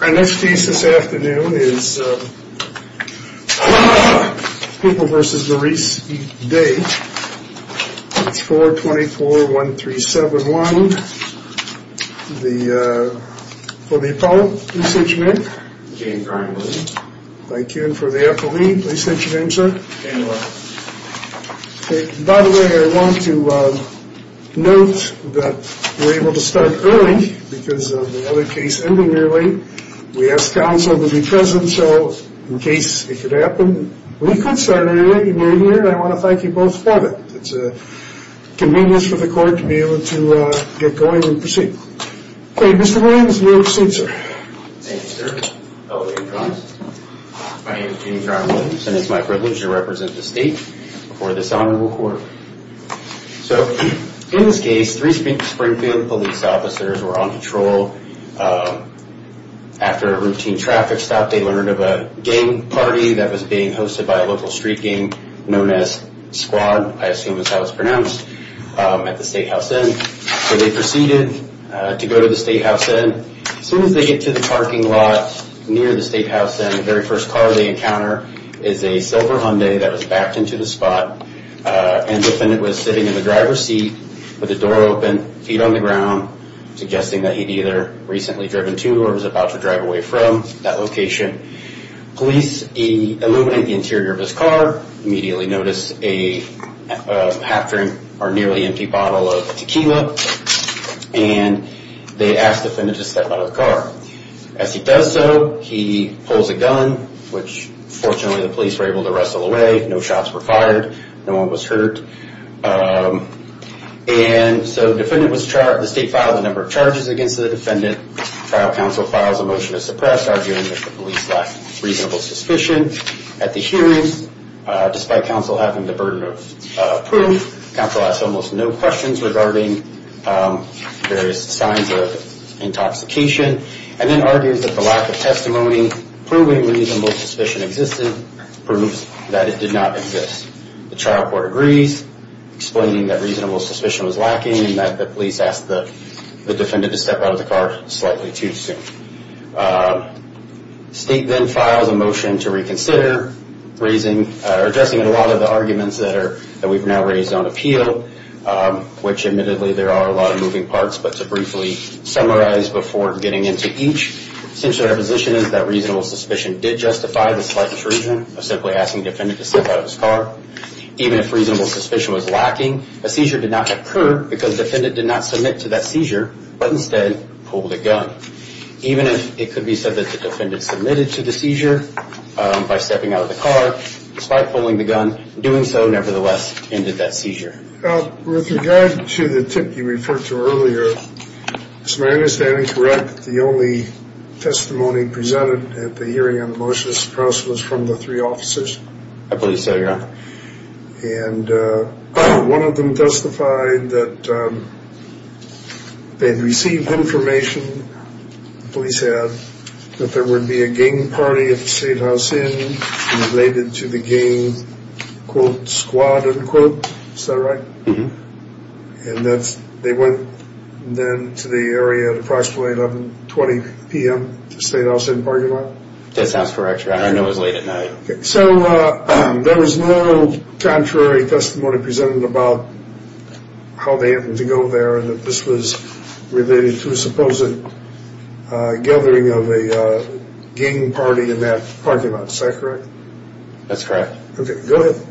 Our next case this afternoon is People v. Maurice Day, 424-1371 for the Apollo. Please state your name. I'm Ken. I'm Ken. For the FLE, please state your name, sir. I'm Ken. By the way, I want to note that we're able to start early because of the other case ending early. We asked counsel to be present so in case it could happen, we could start early and you're here. I want to thank you both for that. It's a convenience for the court to be able to get going and proceed. Okay, Mr. Williams, you may proceed, sir. Thank you, sir. My name is Jimmy John Williams and it's my privilege to represent the state for this honorable court. So in this case, three Springfield police officers were on control. After a routine traffic stop, they learned of a gang party that was being hosted by a local street gang known as S.Q.U.A.D., I assume is how it's pronounced, at the Statehouse Inn. So they proceeded to go to the Statehouse Inn. As soon as they get to the parking lot near the Statehouse Inn, the very first car they encounter is a silver Hyundai that was backed into the spot. And the defendant was sitting in the driver's seat with the door open, feet on the ground, suggesting that he'd either recently driven to or was about to drive away from that location. Police illuminated the interior of his car, immediately noticed a half-drink or nearly empty bottle of tequila. And they asked the defendant to step out of the car. As he does so, he pulls a gun, which fortunately the police were able to wrestle away. No shots were fired. No one was hurt. And so the state filed a number of charges against the defendant. Trial counsel filed a motion to suppress, arguing that the police lacked reasonable suspicion. At the hearing, despite counsel having the burden of proof, counsel asked almost no questions regarding various signs of intoxication. And then argued that the lack of testimony proving reasonable suspicion existed proves that it did not exist. The trial court agrees, explaining that reasonable suspicion was lacking and that the police asked the defendant to step out of the car slightly too soon. State then files a motion to reconsider, addressing a lot of the arguments that we've now raised on appeal, which admittedly there are a lot of moving parts, but to briefly summarize before getting into each. Essentially our position is that reasonable suspicion did justify the slight intrusion of simply asking the defendant to step out of his car. Even if reasonable suspicion was lacking, a seizure did not occur because the defendant did not submit to that seizure, but instead pulled a gun. Even if it could be said that the defendant submitted to the seizure by stepping out of the car, despite pulling the gun, doing so nevertheless ended that seizure. With regard to the tip you referred to earlier, is my understanding correct that the only testimony presented at the hearing on the motion to suppress was from the three officers? I believe so, Your Honor. And one of them testified that they'd received information, the police had, that there would be a gang party at the State House Inn related to the gang, quote, squad, unquote. Is that right? Mm-hmm. And they went then to the area at approximately 11, 20 p.m. to the State House Inn parking lot? That sounds correct, Your Honor. I know it was late at night. So there was no contrary testimony presented about how they happened to go there and that this was related to a supposed gathering of a gang party in that parking lot. Is that correct? That's correct. Okay, go ahead.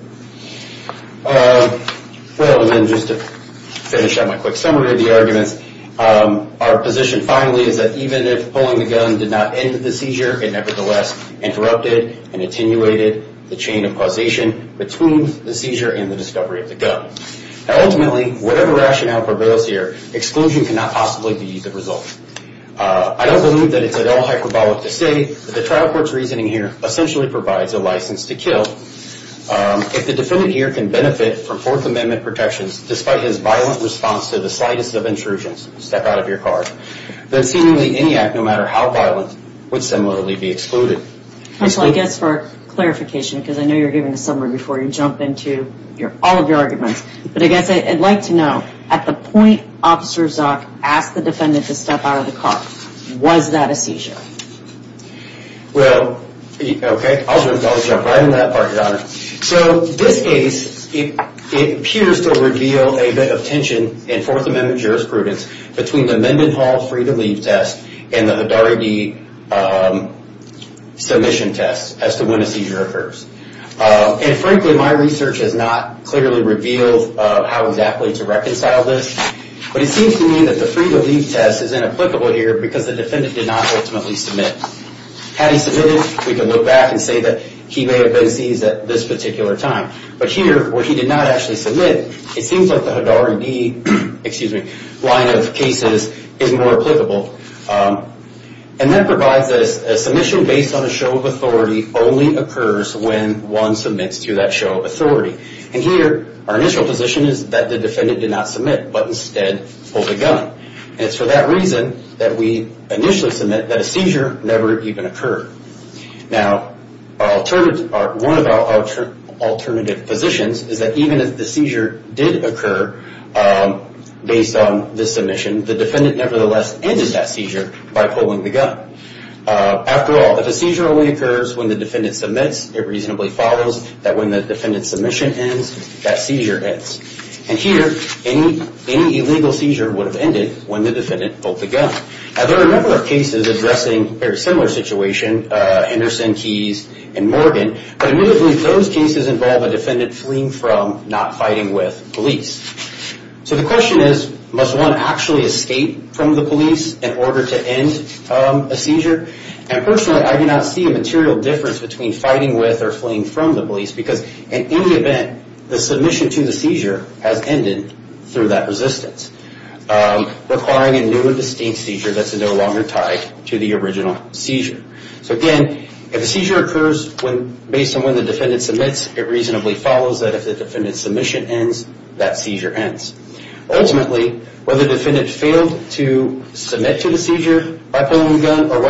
Well, and then just to finish up my quick summary of the arguments, our position finally is that even if pulling the gun did not end the seizure, it nevertheless interrupted and attenuated the chain of causation between the seizure and the discovery of the gun. Now, ultimately, whatever rationale prevails here, exclusion cannot possibly be the result. I don't believe that it's at all hyperbolic to say that the trial court's reasoning here essentially provides a license to kill. If the defendant here can benefit from Fourth Amendment protections despite his violent response to the slightest of intrusions, step out of your car, then seemingly any act, no matter how violent, would similarly be excluded. I guess for clarification, because I know you're giving a summary before you jump into all of your arguments, but I guess I'd like to know at the point Officer Zuck asked the defendant to step out of the car, was that a seizure? Well, okay, I'll jump right into that part, Your Honor. So this case, it appears to reveal a bit of tension in Fourth Amendment jurisprudence between the Mendenhall free-to-leave test and the Hidari B submission test as to when a seizure occurs. And frankly, my research has not clearly revealed how exactly to reconcile this, but it seems to me that the free-to-leave test is inapplicable here because the defendant did not ultimately submit. Had he submitted, we can look back and say that he may have been seized at this particular time. But here, where he did not actually submit, it seems like the Hidari B line of cases is more applicable. And that provides us a submission based on a show of authority only occurs when one submits to that show of authority. And here, our initial position is that the defendant did not submit, but instead pulled a gun. And it's for that reason that we initially submit that a seizure never even occurred. Now, one of our alternative positions is that even if the seizure did occur based on this submission, the defendant nevertheless ended that seizure by pulling the gun. After all, if a seizure only occurs when the defendant submits, it reasonably follows that when the defendant's submission ends, that seizure ends. And here, any illegal seizure would have ended when the defendant pulled the gun. Now, there are a number of cases addressing a very similar situation, Anderson, Keyes, and Morgan. But admittedly, those cases involve a defendant fleeing from, not fighting with, police. So the question is, must one actually escape from the police in order to end a seizure? And personally, I do not see a material difference between fighting with or fleeing from the police because in any event, the submission to the seizure has ended through that resistance, requiring a new and distinct seizure that's no longer tied to the original seizure. So again, if a seizure occurs based on when the defendant submits, it reasonably follows that if the defendant's submission ends, that seizure ends. Ultimately, whether the defendant failed to submit to the seizure by pulling the gun or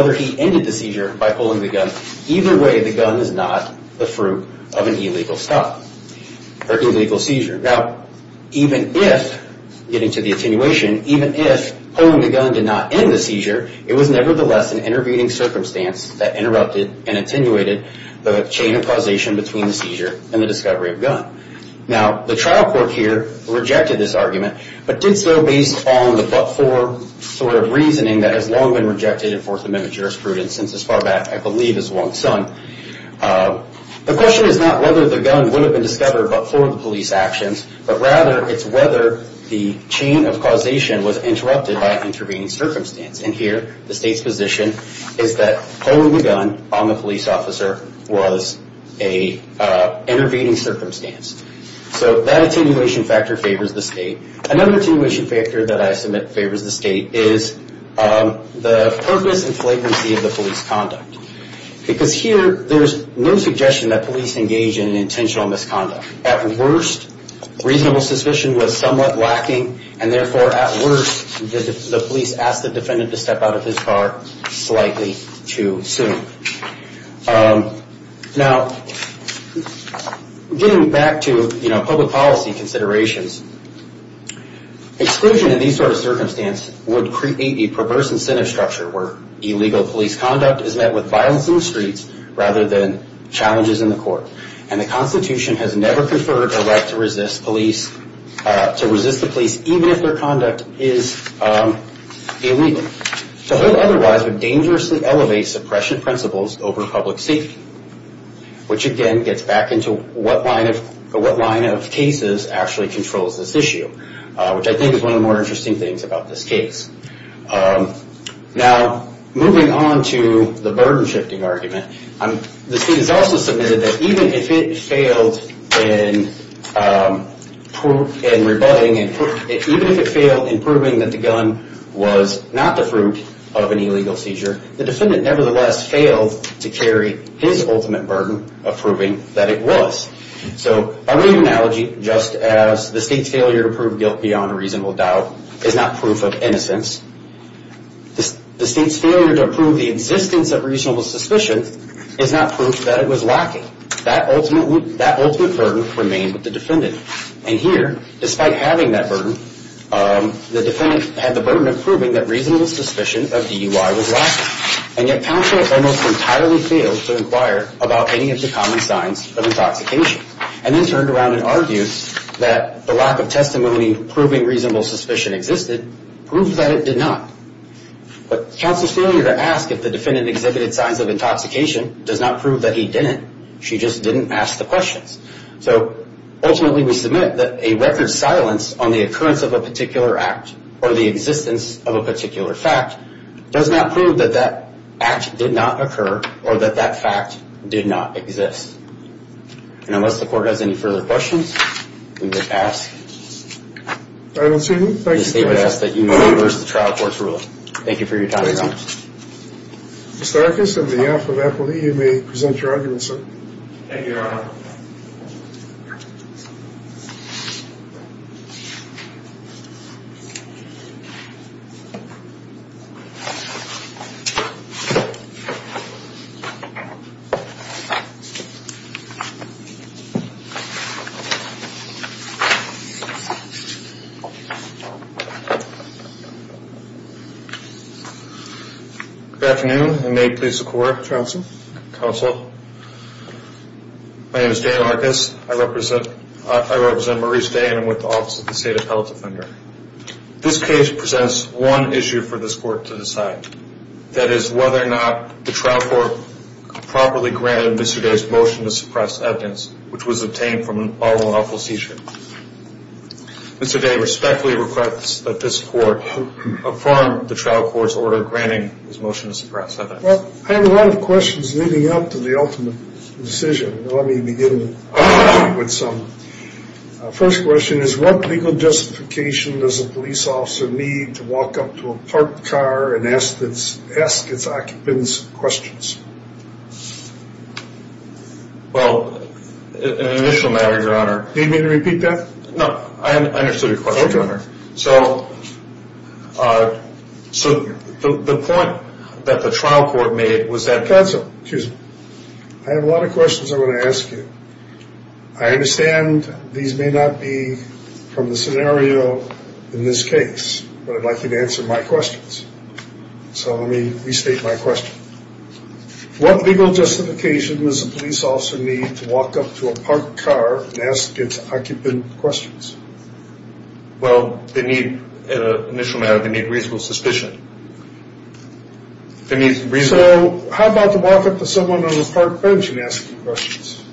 illegal seizure. Now, even if, getting to the attenuation, even if pulling the gun did not end the seizure, it was nevertheless an intervening circumstance that interrupted and attenuated the chain of causation between the seizure and the discovery of gun. Now, the trial court here rejected this argument, but did so based on the but-for sort of reasoning that has long been rejected in Fourth Amendment jurisprudence since as far back, I believe, as long sung. The question is not whether the gun would have been discovered but for the police actions, but rather it's whether the chain of causation was interrupted by an intervening circumstance. And here, the state's position is that pulling the gun on the police officer was an intervening circumstance. So that attenuation factor favors the state. Another attenuation factor that I submit favors the state is the purpose and flagrancy of the police conduct. Because here, there's no suggestion that police engage in intentional misconduct. At worst, reasonable suspicion was somewhat lacking, and therefore, at worst, the police asked the defendant to step out of his car slightly too soon. Now, getting back to public policy considerations, exclusion in these sort of circumstances would create a perverse incentive structure where illegal police conduct is met with violence in the streets rather than challenges in the court. And the Constitution has never conferred a right to resist the police even if their conduct is illegal. To hold otherwise would dangerously elevate suppression principles over public safety, which again gets back into what line of cases actually controls this issue, which I think is one of the more interesting things about this case. Now, moving on to the burden-shifting argument, the state has also submitted that even if it failed in proving that the gun was not the fruit of an illegal seizure, the defendant nevertheless failed to carry his ultimate burden of proving that it was. So, I'll give you an analogy, just as the state's failure to prove guilt beyond a reasonable doubt is not proof of innocence, the state's failure to prove the existence of reasonable suspicion is not proof that it was lacking. That ultimate burden remained with the defendant. And here, despite having that burden, the defendant had the burden of proving that reasonable suspicion of DUI was lacking. And yet, counsel almost entirely failed to inquire about any of the common signs of intoxication, and then turned around and argued that the lack of testimony proving reasonable suspicion existed proved that it did not. But counsel's failure to ask if the defendant exhibited signs of intoxication does not prove that he didn't. She just didn't ask the questions. So, ultimately, we submit that a record silence on the occurrence of a particular act or the existence of a particular fact does not prove that that act did not occur or that that fact did not exist. And unless the court has any further questions, we would ask. I don't see them. I would ask that you move versus the trial court's ruling. Thank you for your time. Thank you. Mr. Arcus, on behalf of Appleby, you may present your argument, sir. Thank you, Your Honor. Good afternoon, and may it please the court. Counsel. Counsel. My name is Dan Arcus. I represent Maurice Day, and I'm with the Office of the State Appellate Defender. This case presents one issue for this court to decide, that is whether or not the trial court properly granted Mr. Day's motion to suppress evidence, which was obtained from an all-lawful seizure. Mr. Day respectfully requests that this court affirm the trial court's order granting his motion to suppress evidence. Well, I have a lot of questions leading up to the ultimate decision. Let me begin with some. First question is, what legal justification does a police officer need to walk up to a parked car and ask its occupants questions? Well, in initial matters, Your Honor. Do you need me to repeat that? No. I understood your question, Your Honor. So the point that the trial court made was that counsel, excuse me, I have a lot of questions I want to ask you. I understand these may not be from the scenario in this case, but I'd like you to answer my questions. So let me restate my question. What legal justification does a police officer need to walk up to a parked car and ask its occupant questions? Well, they need, in an initial matter, they need reasonable suspicion. They need reasonable. So how about to walk up to someone on a parked bench and ask them questions?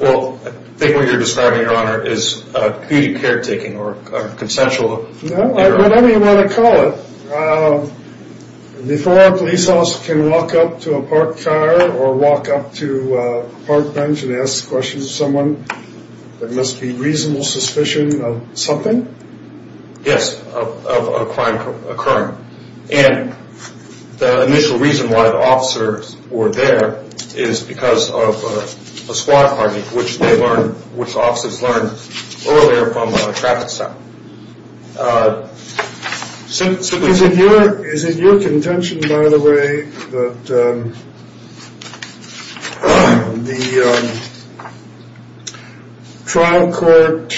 Well, I think what you're describing, Your Honor, is comedic caretaking or consensual. Whatever you want to call it. Before a police officer can walk up to a parked car or walk up to a parked bench and ask questions of someone, there must be reasonable suspicion of something? Yes, of a crime occurring. And the initial reason why the officers were there is because of a squad parking, which they learned, which officers learned earlier from a traffic stop. Is it your contention, by the way, that the trial court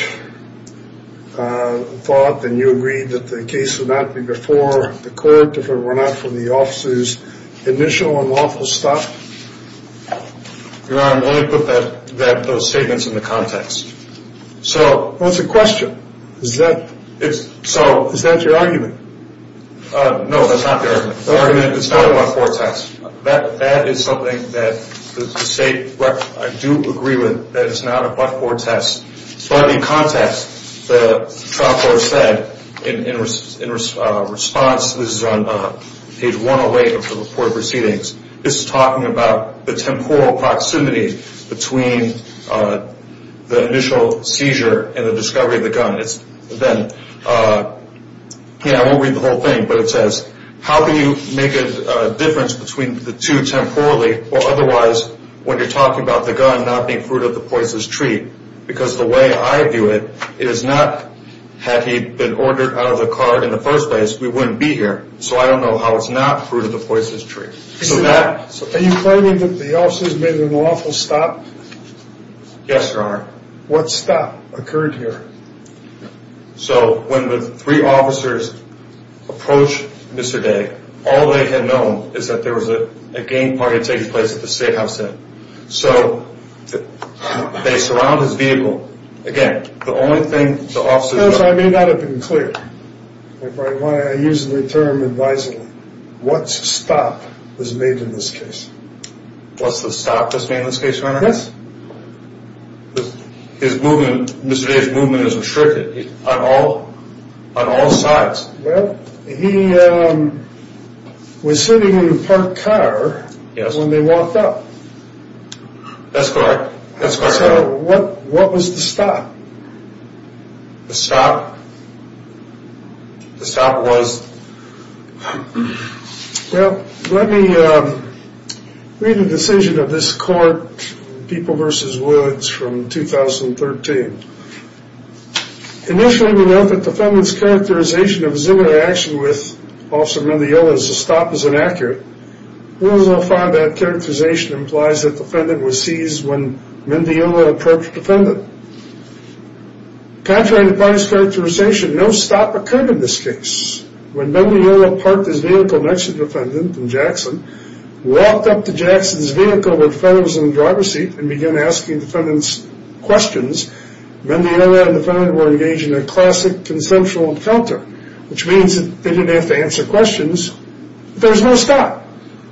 thought, and you agreed that the case would not be before the court if it were not for the officers' initial and lawful stuff? Your Honor, let me put those statements into context. So what's the question? Is that your argument? No, that's not the argument. It's not a blackboard test. That is something that the state, I do agree with, that it's not a blackboard test. But in context, the trial court said in response, this is on page 108 of the report of proceedings, this is talking about the temporal proximity between the initial seizure and the discovery of the gun. Then, I won't read the whole thing, but it says, how can you make a difference between the two temporally or otherwise when you're talking about the gun not being fruit of the poisonous tree because the way I view it, it is not, had he been ordered out of the car in the first place, we wouldn't be here. So I don't know how it's not fruit of the poisonous tree. Are you claiming that the officers made an unlawful stop? Yes, Your Honor. What stop occurred here? So when the three officers approached Mr. Day, all they had known is that there was a game party taking place at the Statehouse Inn. So they surround his vehicle. Again, the only thing the officers... I may not have been clear. I use the term advisable. What stop was made in this case? What's the stop that's made in this case, Your Honor? Yes. His movement, Mr. Day's movement is restricted on all sides. Well, he was sitting in the parked car when they walked up. That's correct. So what was the stop? The stop? The stop was? Well, let me read the decision of this court, People v. Woods from 2013. Initially, we know that the defendant's characterization of his interaction with Officer Mendiola's stop is inaccurate. We also find that characterization implies that the defendant was seized when Mendiola approached the defendant. Contrary to party's characterization, no stop occurred in this case. When Mendiola parked his vehicle next to the defendant in Jackson, walked up to Jackson's vehicle where the defendant was in the driver's seat, and began asking the defendant questions, Mendiola and the defendant were engaged in a classic consensual encounter, which means that they didn't have to answer questions. There was no stop.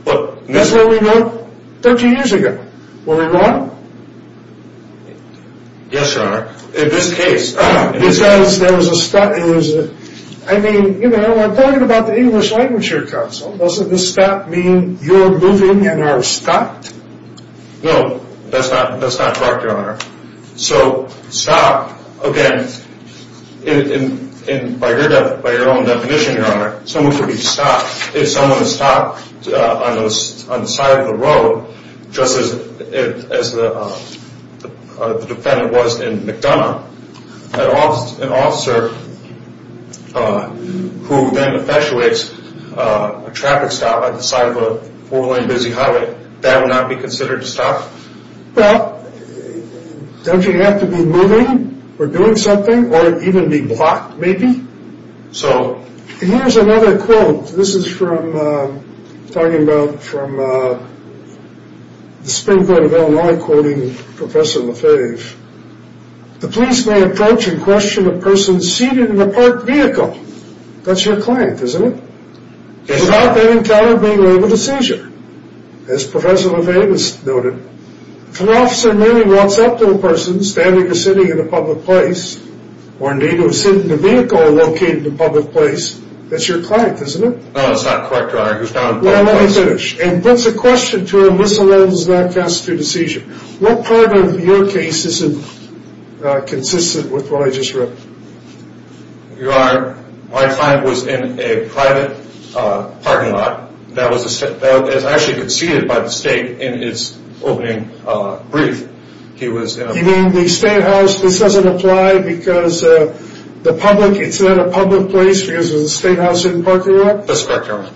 That's where we were 30 years ago. Were we wrong? Yes, Your Honor. In this case. Because there was a stop. I mean, you know, we're talking about the English Language here, Counsel. Doesn't the stop mean you're moving and are stopped? No, that's not correct, Your Honor. So, stop, again, by your own definition, Your Honor, someone could be stopped. If someone is stopped on the side of the road, just as the defendant was in McDonough, an officer who then perpetuates a traffic stop at the side of a four-lane busy highway, that would not be considered a stop? Well, don't you have to be moving or doing something or even be blocked, maybe? So. Here's another quote. This is from talking about from the Springboard of Illinois quoting Professor Lefebvre. The police may approach and question a person seated in a parked vehicle. That's your client, isn't it? Yes, sir. As Professor Lefebvre noted, if an officer merely walks up to a person standing or sitting in a public place or, indeed, who is sitting in a vehicle located in a public place, that's your client, isn't it? No, that's not correct, Your Honor. He was found in a public place. Well, let me finish. And puts a question to him, this alone does not constitute a seizure. What part of your case isn't consistent with what I just wrote? Your Honor, my client was in a private parking lot that was actually conceded by the state in its opening brief. He was in a- You mean the statehouse, this doesn't apply because the public, it's in a public place because of the statehouse in parking lot? That's correct, Your Honor.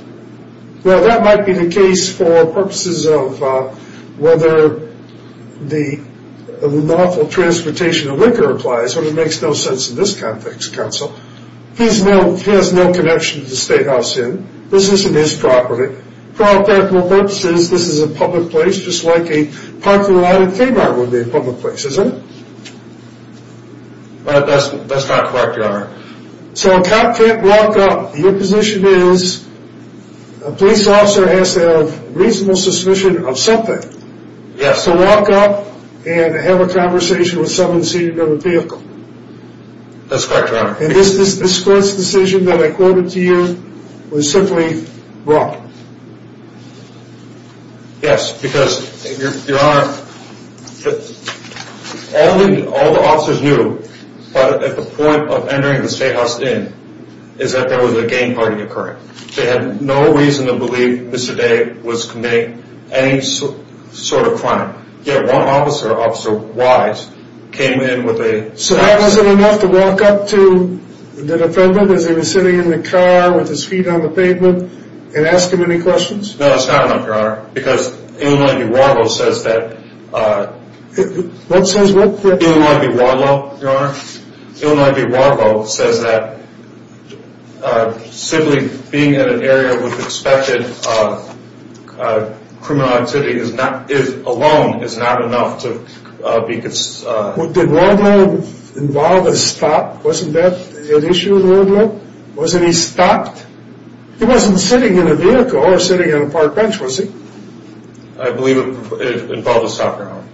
Well, that might be the case for purposes of whether the lawful transportation of liquor applies. That sort of makes no sense in this context, Counsel. He has no connection to the statehouse in. This isn't his property. For all practical purposes, this is a public place, just like a parking lot at Kmart would be a public place, isn't it? That's not correct, Your Honor. So a cop can't walk up. Your position is a police officer has to have reasonable suspicion of something. Yes. He has to walk up and have a conversation with someone seated in a vehicle. That's correct, Your Honor. And this court's decision that I quoted to you was simply wrong. Yes, because, Your Honor, all the officers knew at the point of entering the statehouse in is that there was a gang party occurring. They had no reason to believe Mr. Day was committing any sort of crime. Yet one officer, Officer Wise, came in with a... So that wasn't enough to walk up to the defendant as he was sitting in the car with his feet on the pavement and ask him any questions? No, it's not enough, Your Honor, because Illinois v. Warlow says that... Being in an area with suspected criminal activity alone is not enough to be... Did Warlow involve a stop? Wasn't that an issue with Warlow? Wasn't he stopped? He wasn't sitting in a vehicle or sitting on a park bench, was he? I believe it involved a stop, Your Honor.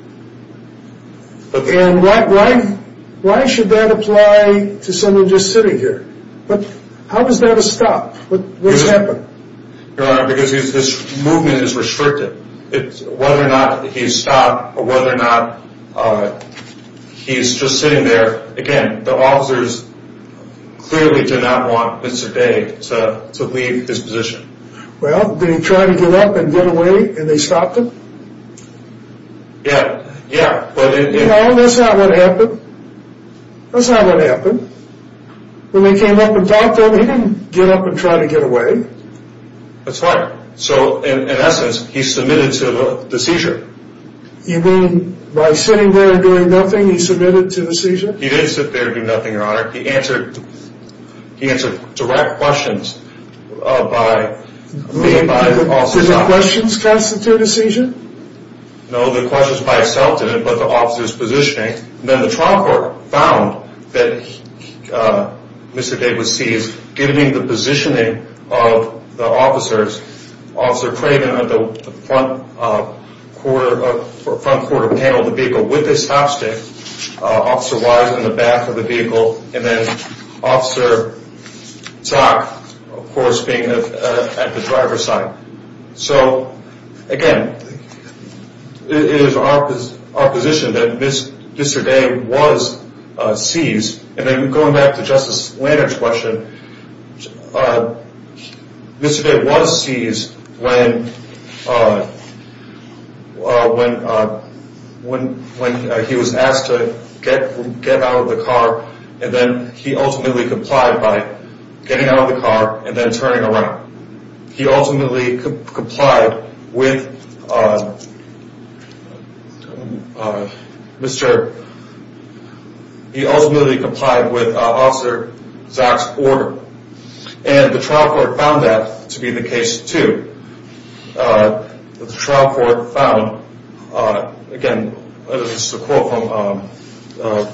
And why should that apply to someone just sitting here? But how was that a stop? What happened? Your Honor, because his movement is restricted. Whether or not he's stopped or whether or not he's just sitting there... Again, the officers clearly did not want Mr. Day to leave his position. Well, did he try to get up and get away and they stopped him? Yeah. No, that's not what happened. That's not what happened. When they came up and talked to him, he didn't get up and try to get away. That's right. So, in essence, he submitted to the seizure. You mean by sitting there and doing nothing, he submitted to the seizure? He didn't sit there and do nothing, Your Honor. He answered direct questions by... Did the questions constitute a seizure? No, the questions by itself didn't, but the officers' positioning. Then the trial court found that Mr. Day was seized, given the positioning of the officers, Officer Craven at the front quarter panel of the vehicle with his top stick, Officer Wise in the back of the vehicle, and then Officer Toc, of course, being at the driver's side. So, again, it is our position that Mr. Day was seized. And then going back to Justice Lantern's question, Mr. Day was seized when he was asked to get out of the car, and then he ultimately complied by getting out of the car and then turning around. He ultimately complied with Officer Zack's order, and the trial court found that to be the case, too. The trial court found, again, this is a quote from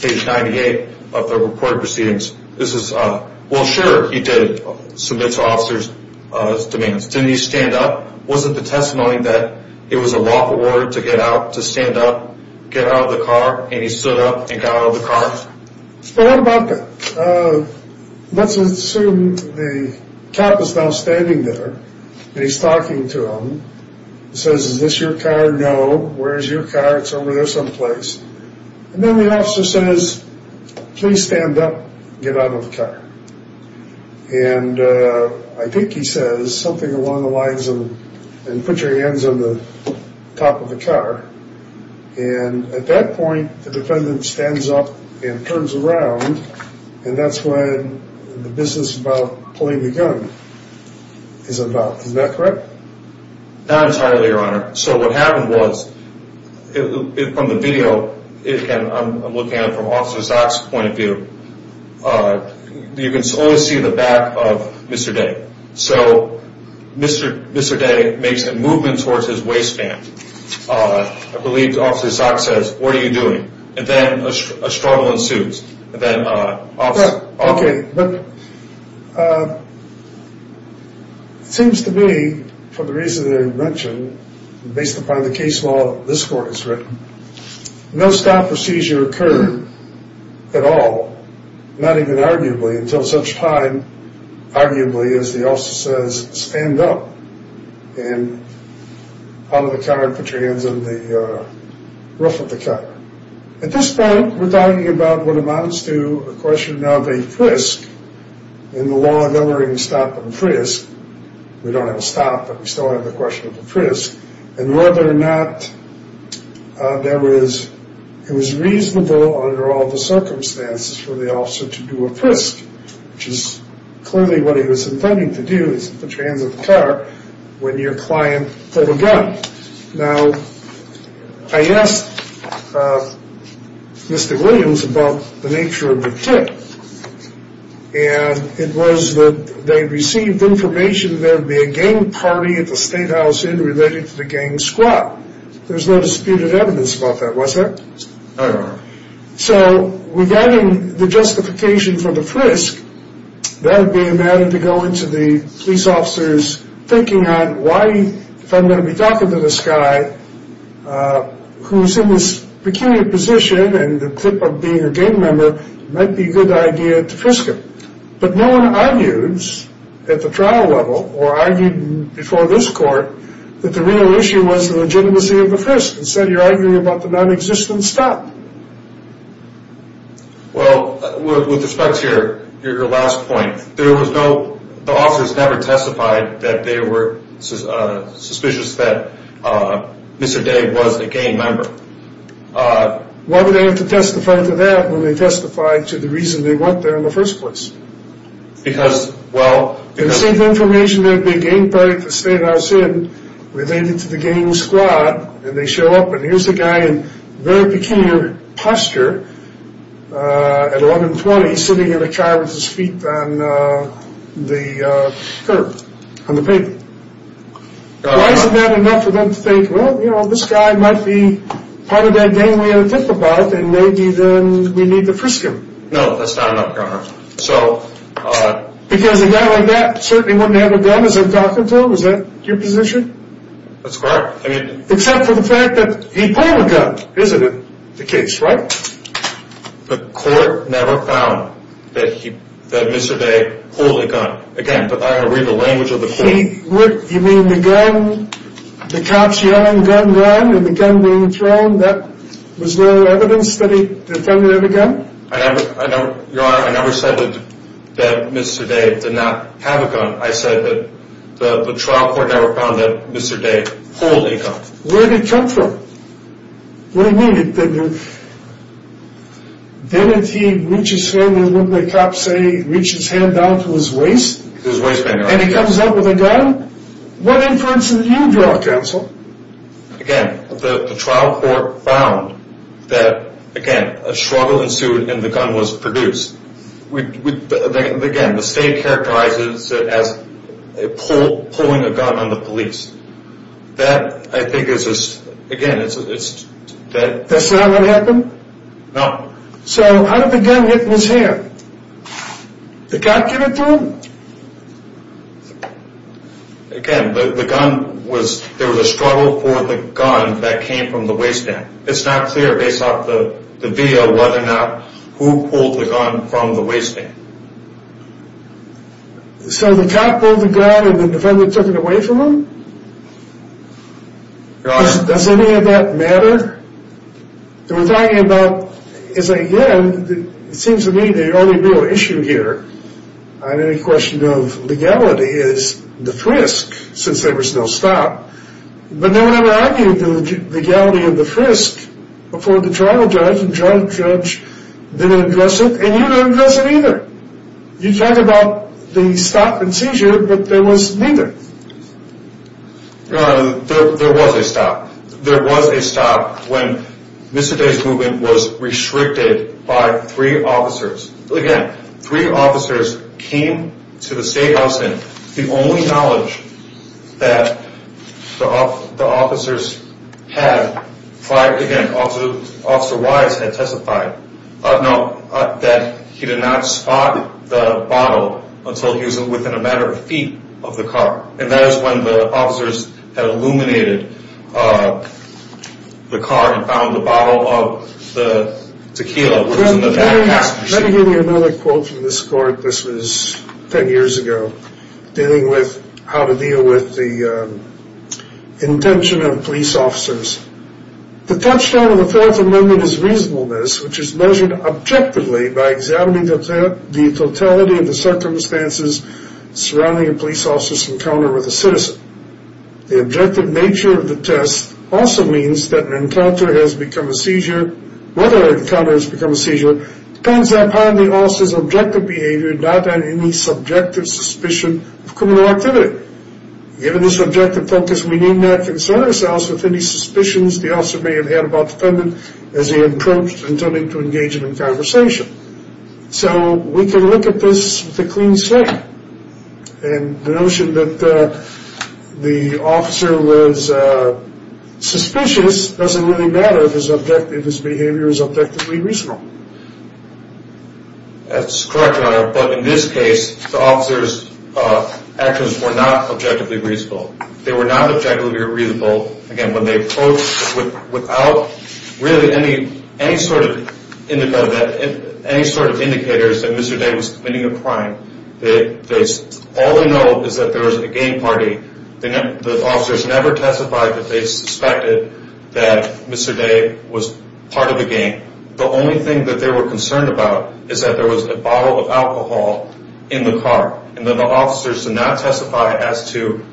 page 98 of the reported proceedings. Well, sure, he did submit to officers' demands. Didn't he stand up? Was it the testimony that it was a lawful order to get out, to stand up, get out of the car, and he stood up and got out of the car? Well, how about that? Let's assume the cop is now standing there, and he's talking to him. He says, is this your car? No. Where is your car? It's over there someplace. And then the officer says, please stand up and get out of the car. And I think he says something along the lines of, put your hands on the top of the car. And at that point, the defendant stands up and turns around, and that's when the business about pulling the gun is about. Is that correct? Not entirely, Your Honor. So what happened was, from the video, I'm looking at it from Officer Zaks' point of view, you can only see the back of Mr. Day. So Mr. Day makes a movement towards his waistband. I believe Officer Zaks says, what are you doing? And then a struggle ensues. Okay, but it seems to me, for the reason that I mentioned, based upon the case law that this court has written, no stop or seizure occurred at all, not even arguably until such time, arguably, as the officer says, stand up, and out of the car, put your hands on the roof of the car. At this point, we're talking about what amounts to a question of a frisk in the law governing stop and frisk. We don't have a stop, but we still have the question of a frisk. And whether or not it was reasonable under all the circumstances for the officer to do a frisk, which is clearly what he was intending to do, is put your hands on the car, when your client pulled a gun. Now, I asked Mr. Williams about the nature of the tip, and it was that they received information that there would be a gang party at the Statehouse Inn related to the gang squad. There was no disputed evidence about that, was there? No, Your Honor. So with that in the justification for the frisk, that would be a matter to go into the police officer's thinking on why, if I'm going to be talking to this guy who's in this peculiar position and the tip of being a gang member, it might be a good idea to frisk him. But no one argues at the trial level or argued before this court that the real issue was the legitimacy of the frisk. Instead, you're arguing about the nonexistent stop. Well, with respect to your last point, the officers never testified that they were suspicious that Mr. Day was a gang member. Why would they have to testify to that when they testified to the reason they went there in the first place? Because, well— They received information that there would be a gang party at the Statehouse Inn related to the gang squad, and they show up, and here's a guy in very peculiar posture at 1120 while he's sitting in a car with his feet on the curb on the pavement. Why isn't that enough for them to think, well, you know, this guy might be part of that gang we had a tip about, and maybe then we need to frisk him? No, that's not enough, Your Honor. So— Because a guy like that certainly wouldn't have a gun as I'm talking to him. Is that your position? That's correct. Except for the fact that he pulled a gun, isn't it, the case, right? The court never found that Mr. Day pulled a gun. Again, I read the language of the court. You mean the gun, the cops yelling, gun, gun, and the gun being thrown, that was no evidence that he defended a gun? I never said that Mr. Day did not have a gun. I said that the trial court never found that Mr. Day pulled a gun. Where did it come from? What do you mean it didn't? Didn't he reach his hand down to what the cops say, reach his hand down to his waist? To his waist, Your Honor. And he comes up with a gun? What inference did you draw, counsel? Again, the trial court found that, again, a struggle ensued and the gun was produced. Again, the state characterizes it as pulling a gun on the police. That, I think, is just, again, it's dead. That's not what happened? No. So how did the gun get in his hand? The cop give it to him? Again, the gun was, there was a struggle for the gun that came from the waist end. It's not clear based off the video whether or not who pulled the gun from the waist end. So the cop pulled the gun and the defendant took it away from him? Your Honor. Does any of that matter? We're talking about, again, it seems to me the only real issue here on any question of legality is the frisk, since there was no stop. But no one ever argued the legality of the frisk before the trial judge. The judge didn't address it and you didn't address it either. You talked about the stop and seizure, but there was neither. Your Honor, there was a stop. There was a stop when Mr. Day's movement was restricted by three officers. Again, three officers came to the state house and the only knowledge that the officers had, again, Officer Wise had testified, that he did not spot the bottle until he was within a matter of feet of the car. And that is when the officers had illuminated the car and found the bottle of the tequila. Let me give you another quote from this court. This was ten years ago, dealing with how to deal with the intention of police officers. The touchstone of the Fourth Amendment is reasonableness, which is measured objectively by examining the totality of the circumstances surrounding a police officer's encounter with a citizen. The objective nature of the test also means that an encounter has become a seizure, depends upon the officer's objective behavior, not on any subjective suspicion of criminal activity. Given this objective focus, we need not concern ourselves with any suspicions the officer may have had about the defendant as he approached and turned in to engagement and conversation. So we can look at this with a clean slate. And the notion that the officer was suspicious doesn't really matter if his behavior is objectively reasonable. That's correct, Your Honor, but in this case, the officer's actions were not objectively reasonable. They were not objectively reasonable, again, when they approached without really any sort of indicators that Mr. Day was committing a crime. All we know is that there was a game party. The officers never testified that they suspected that Mr. Day was part of the game. The only thing that they were concerned about is that there was a bottle of alcohol in the car, and that the officers did not testify as to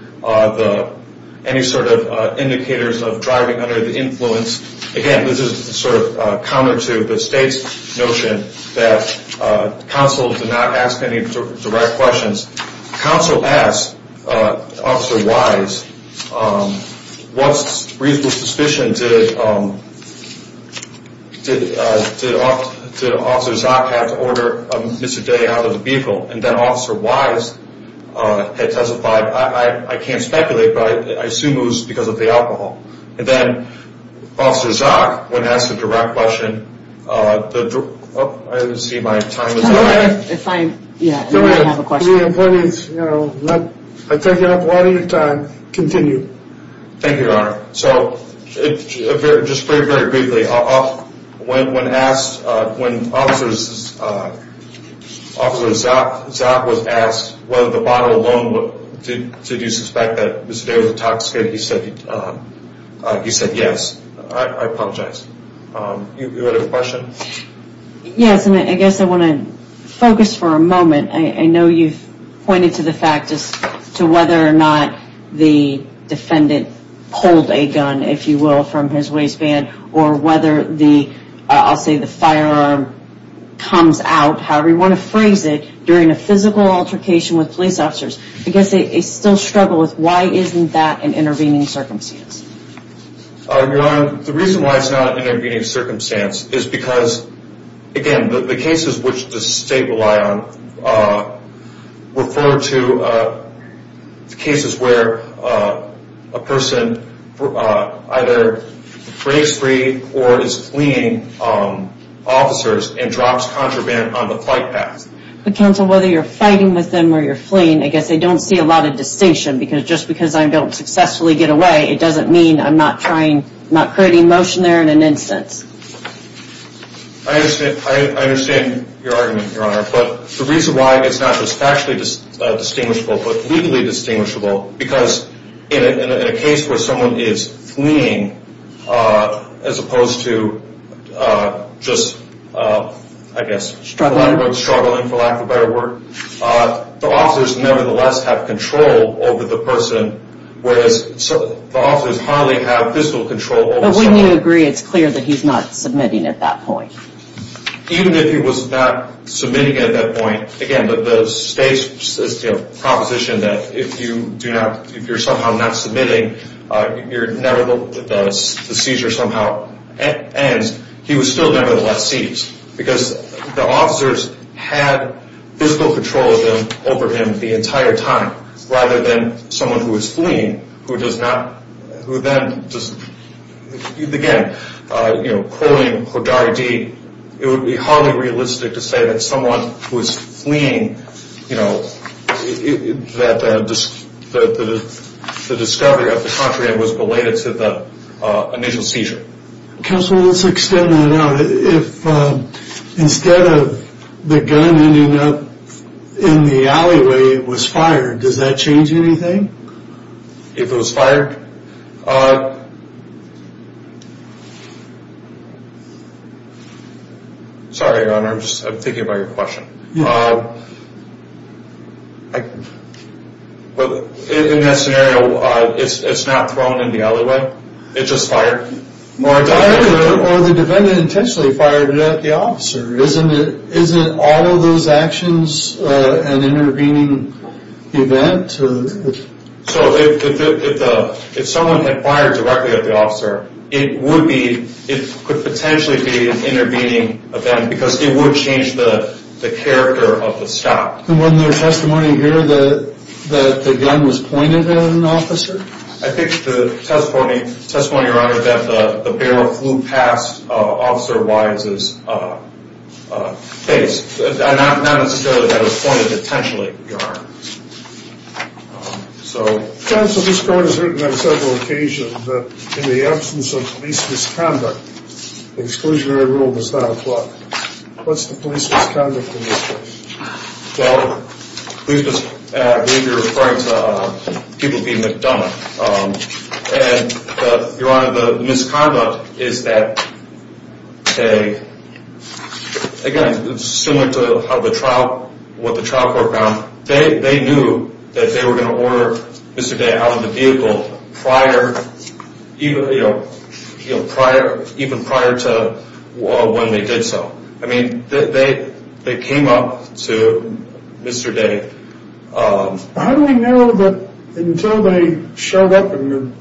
any sort of indicators of driving under the influence. Again, this is sort of counter to the state's notion that counsel did not ask any direct questions. Counsel asked Officer Wise, what reasonable suspicion did Officer Zock have to order Mr. Day out of the vehicle? And then Officer Wise had testified, I can't speculate, but I assume it was because of the alcohol. And then Officer Zock, when asked a direct question, I see my time is up. Go ahead. I take up a lot of your time. Continue. Thank you, Your Honor. So just very, very briefly, when asked, when Officer Zock was asked whether the bottle alone, did you suspect that Mr. Day was intoxicated, he said yes. I apologize. You had a question? Yes, and I guess I want to focus for a moment. I know you've pointed to the fact as to whether or not the defendant pulled a gun, if you will, from his waistband, or whether the, I'll say the firearm comes out, however you want to phrase it, during a physical altercation with police officers. I guess they still struggle with why isn't that an intervening circumstance? Your Honor, the reason why it's not an intervening circumstance is because, again, the cases which the state rely on refer to cases where a person either breaks free or is fleeing officers and drops contraband on the flight path. But counsel, whether you're fighting with them or you're fleeing, I guess they don't see a lot of distinction, because just because I don't successfully get away, it doesn't mean I'm not trying, not creating motion there in an instance. I understand your argument, Your Honor. But the reason why it's not just factually distinguishable but legally distinguishable, because in a case where someone is fleeing as opposed to just, I guess, struggling, for lack of a better word, the officers nevertheless have control over the person, whereas the officers hardly have physical control over someone. So when you agree, it's clear that he's not submitting at that point. Even if he was not submitting at that point, again, the state's proposition that if you're somehow not submitting, the seizure somehow ends, he was still nevertheless seized, because the officers had physical control over him the entire time, rather than someone who was fleeing, who then just, again, quoting Hodari D., it would be hardly realistic to say that someone who was fleeing, that the discovery of the contraband was related to the initial seizure. Counsel, let's extend that out. If instead of the gun ending up in the alleyway, it was fired, does that change anything? If it was fired? Sorry, Your Honor, I'm just thinking about your question. In that scenario, it's not thrown in the alleyway, it's just fired? Or the defendant intentionally fired it at the officer. Isn't all of those actions an intervening event? So if someone had fired directly at the officer, it could potentially be an intervening event, because it would change the character of the stop. And wasn't there testimony here that the gun was pointed at an officer? I think the testimony, Your Honor, that the barrel flew past Officer Wise's face. Not necessarily that it was pointed intentionally, Your Honor. Counsel, this court has written on several occasions that in the absence of police misconduct, exclusionary rule does not apply. What's the police misconduct in this case? Well, I believe you're referring to people being McDonald's. And, Your Honor, the misconduct is that they, again, similar to what the trial court found, they knew that they were going to order Mr. Day out of the vehicle even prior to when they did so. I mean, they came up to Mr. Day. How do we know that until they showed up in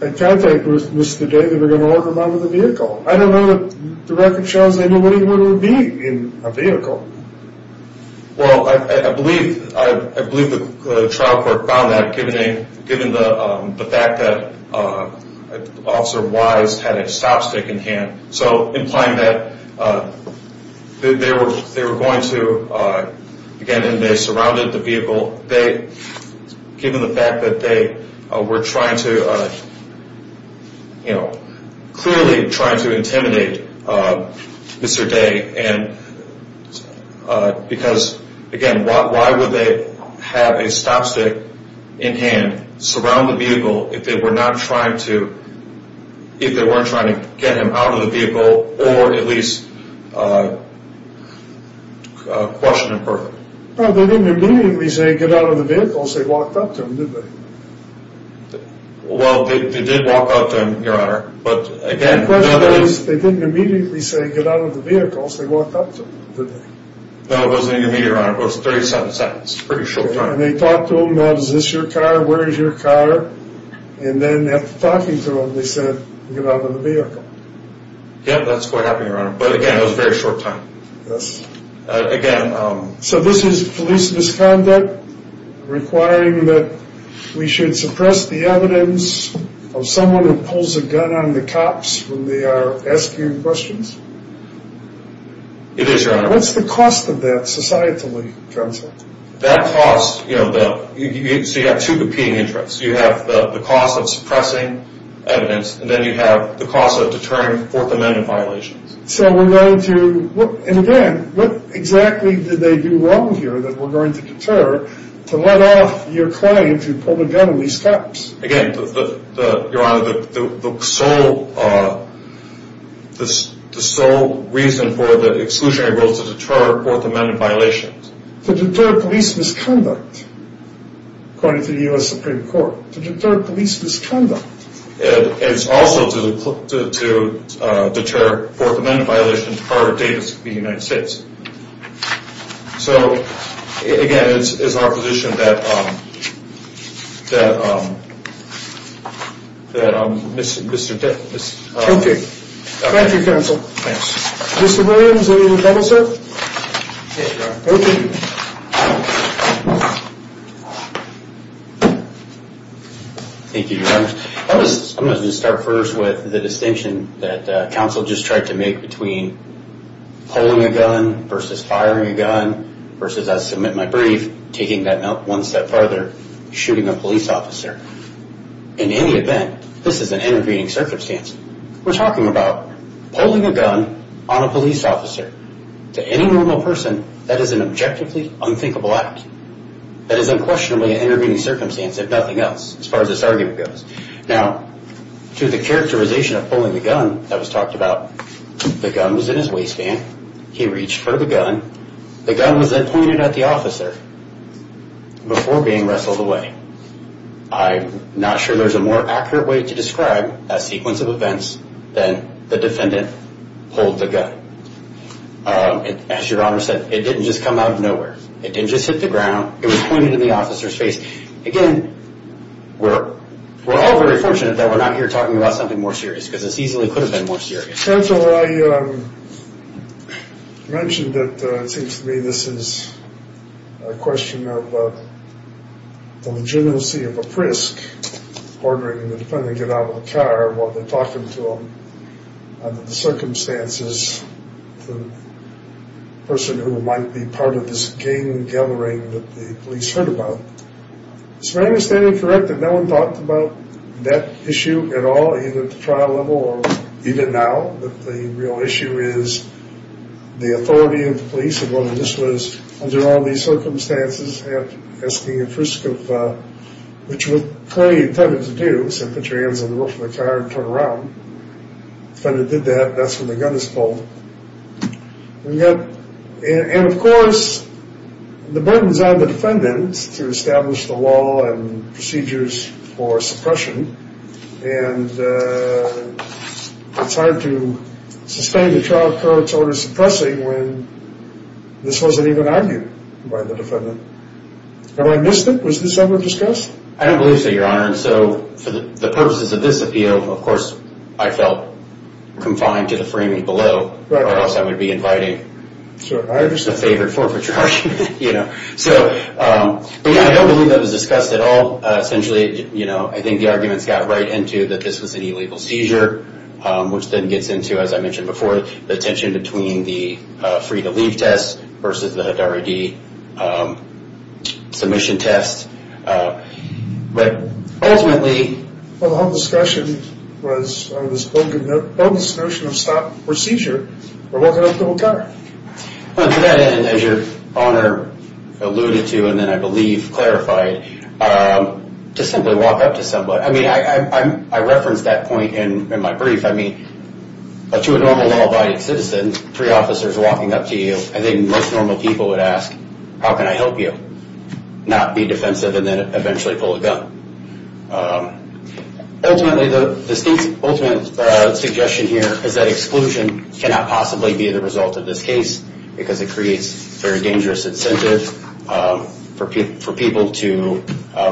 contact with Mr. Day that they were going to order him out of the vehicle? I don't know that the record shows anybody would be in a vehicle. Well, I believe the trial court found that given the fact that Officer Wise had a stop stick in hand. So implying that they were going to, again, and they surrounded the vehicle. They, given the fact that they were trying to, you know, clearly trying to intimidate Mr. Day. And because, again, why would they have a stop stick in hand, surround the vehicle, if they were not trying to, if they weren't trying to get him out of the vehicle or at least question him perfectly? Well, they didn't immediately say, get out of the vehicle. They walked up to him, did they? Well, they did walk up to him, Your Honor. The question is, they didn't immediately say, get out of the vehicle. They walked up to him, did they? No, it wasn't immediately, Your Honor. It was 37 seconds. Pretty short time. And they talked to him about, is this your car? Where is your car? And then after talking to him, they said, get out of the vehicle. Yeah, that's quite happening, Your Honor. But again, it was a very short time. Yes. Again. So this is police misconduct requiring that we should suppress the evidence of someone who pulls a gun on the cops when they are asking questions? It is, Your Honor. What's the cost of that societally, counsel? That cost, you know, so you have two competing interests. You have the cost of suppressing evidence, and then you have the cost of deterring Fourth Amendment violations. So we're going to, and again, what exactly did they do wrong here that we're going to deter to let off your claim to pull a gun on these cops? Again, Your Honor, the sole reason for the exclusionary rule is to deter Fourth Amendment violations. To deter police misconduct, according to the U.S. Supreme Court. To deter police misconduct. And it's also to deter Fourth Amendment violations as part of Davis v. United States. So, again, it's our position that Mr. Davis. Okay. Thank you, counsel. Thanks. Mr. Williams, any rebuttals, sir? Okay, Your Honor. Thank you, Your Honor. I'm going to start first with the distinction that counsel just tried to make between pulling a gun versus firing a gun versus I submit my brief, taking that note one step further, shooting a police officer. In any event, this is an intervening circumstance. We're talking about pulling a gun on a police officer. To any normal person, that is an objectively unthinkable act. That is unquestionably an intervening circumstance, if nothing else, as far as this argument goes. Now, to the characterization of pulling the gun that was talked about, the gun was in his waistband. He reached for the gun. The gun was then pointed at the officer before being wrestled away. I'm not sure there's a more accurate way to describe that sequence of events than the defendant pulled the gun. As Your Honor said, it didn't just come out of nowhere. It didn't just hit the ground. It was pointed in the officer's face. Again, we're all very fortunate that we're not here talking about something more serious because this easily could have been more serious. Counsel, I mentioned that it seems to me this is a question of the legitimacy of a frisk, ordering the defendant to get out of the car while they're talking to him, under the circumstances, the person who might be part of this gang gathering that the police heard about. It's my understanding, correct, that no one talked about that issue at all, either at the trial level or even now, that the real issue is the authority of the police and whether this was under all these circumstances, asking a frisk of which was clearly intended to do, simply put your hands on the roof of the car and turn around. Defendant did that. That's when the gun is pulled. And, of course, the burden is on the defendant to establish the law and procedures for suppression, and it's hard to sustain a trial court's order of suppressing when this wasn't even argued by the defendant. Have I missed it? Was this ever discussed? I don't believe so, Your Honor. For the purposes of this appeal, of course, I felt confined to the framing below, or else I would be inviting a favored forfeiture argument. But, yeah, I don't believe that was discussed at all. Essentially, I think the arguments got right into that this was an illegal seizure, which then gets into, as I mentioned before, the tension between the free-to-leave test versus the Doherty submission test. But, ultimately… Well, the whole discussion was on this bogus notion of stop procedure for walking up to a gunner. To that end, as Your Honor alluded to, and then I believe clarified, to simply walk up to somebody. I mean, I referenced that point in my brief. I mean, to a normal law-abiding citizen, three officers walking up to you, I think most normal people would ask, how can I help you? Not be defensive and then eventually pull a gun. Ultimately, the state's ultimate suggestion here is that exclusion cannot possibly be the result of this case because it creates a very dangerous incentive for people to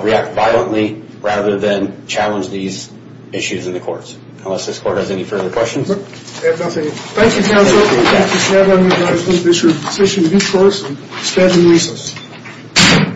react violently rather than challenge these issues in the courts. Unless this court has any further questions. Thank you, counsel. Thank you, Mr. Edelman. I hope this is your decision of your choice. And stand in recess.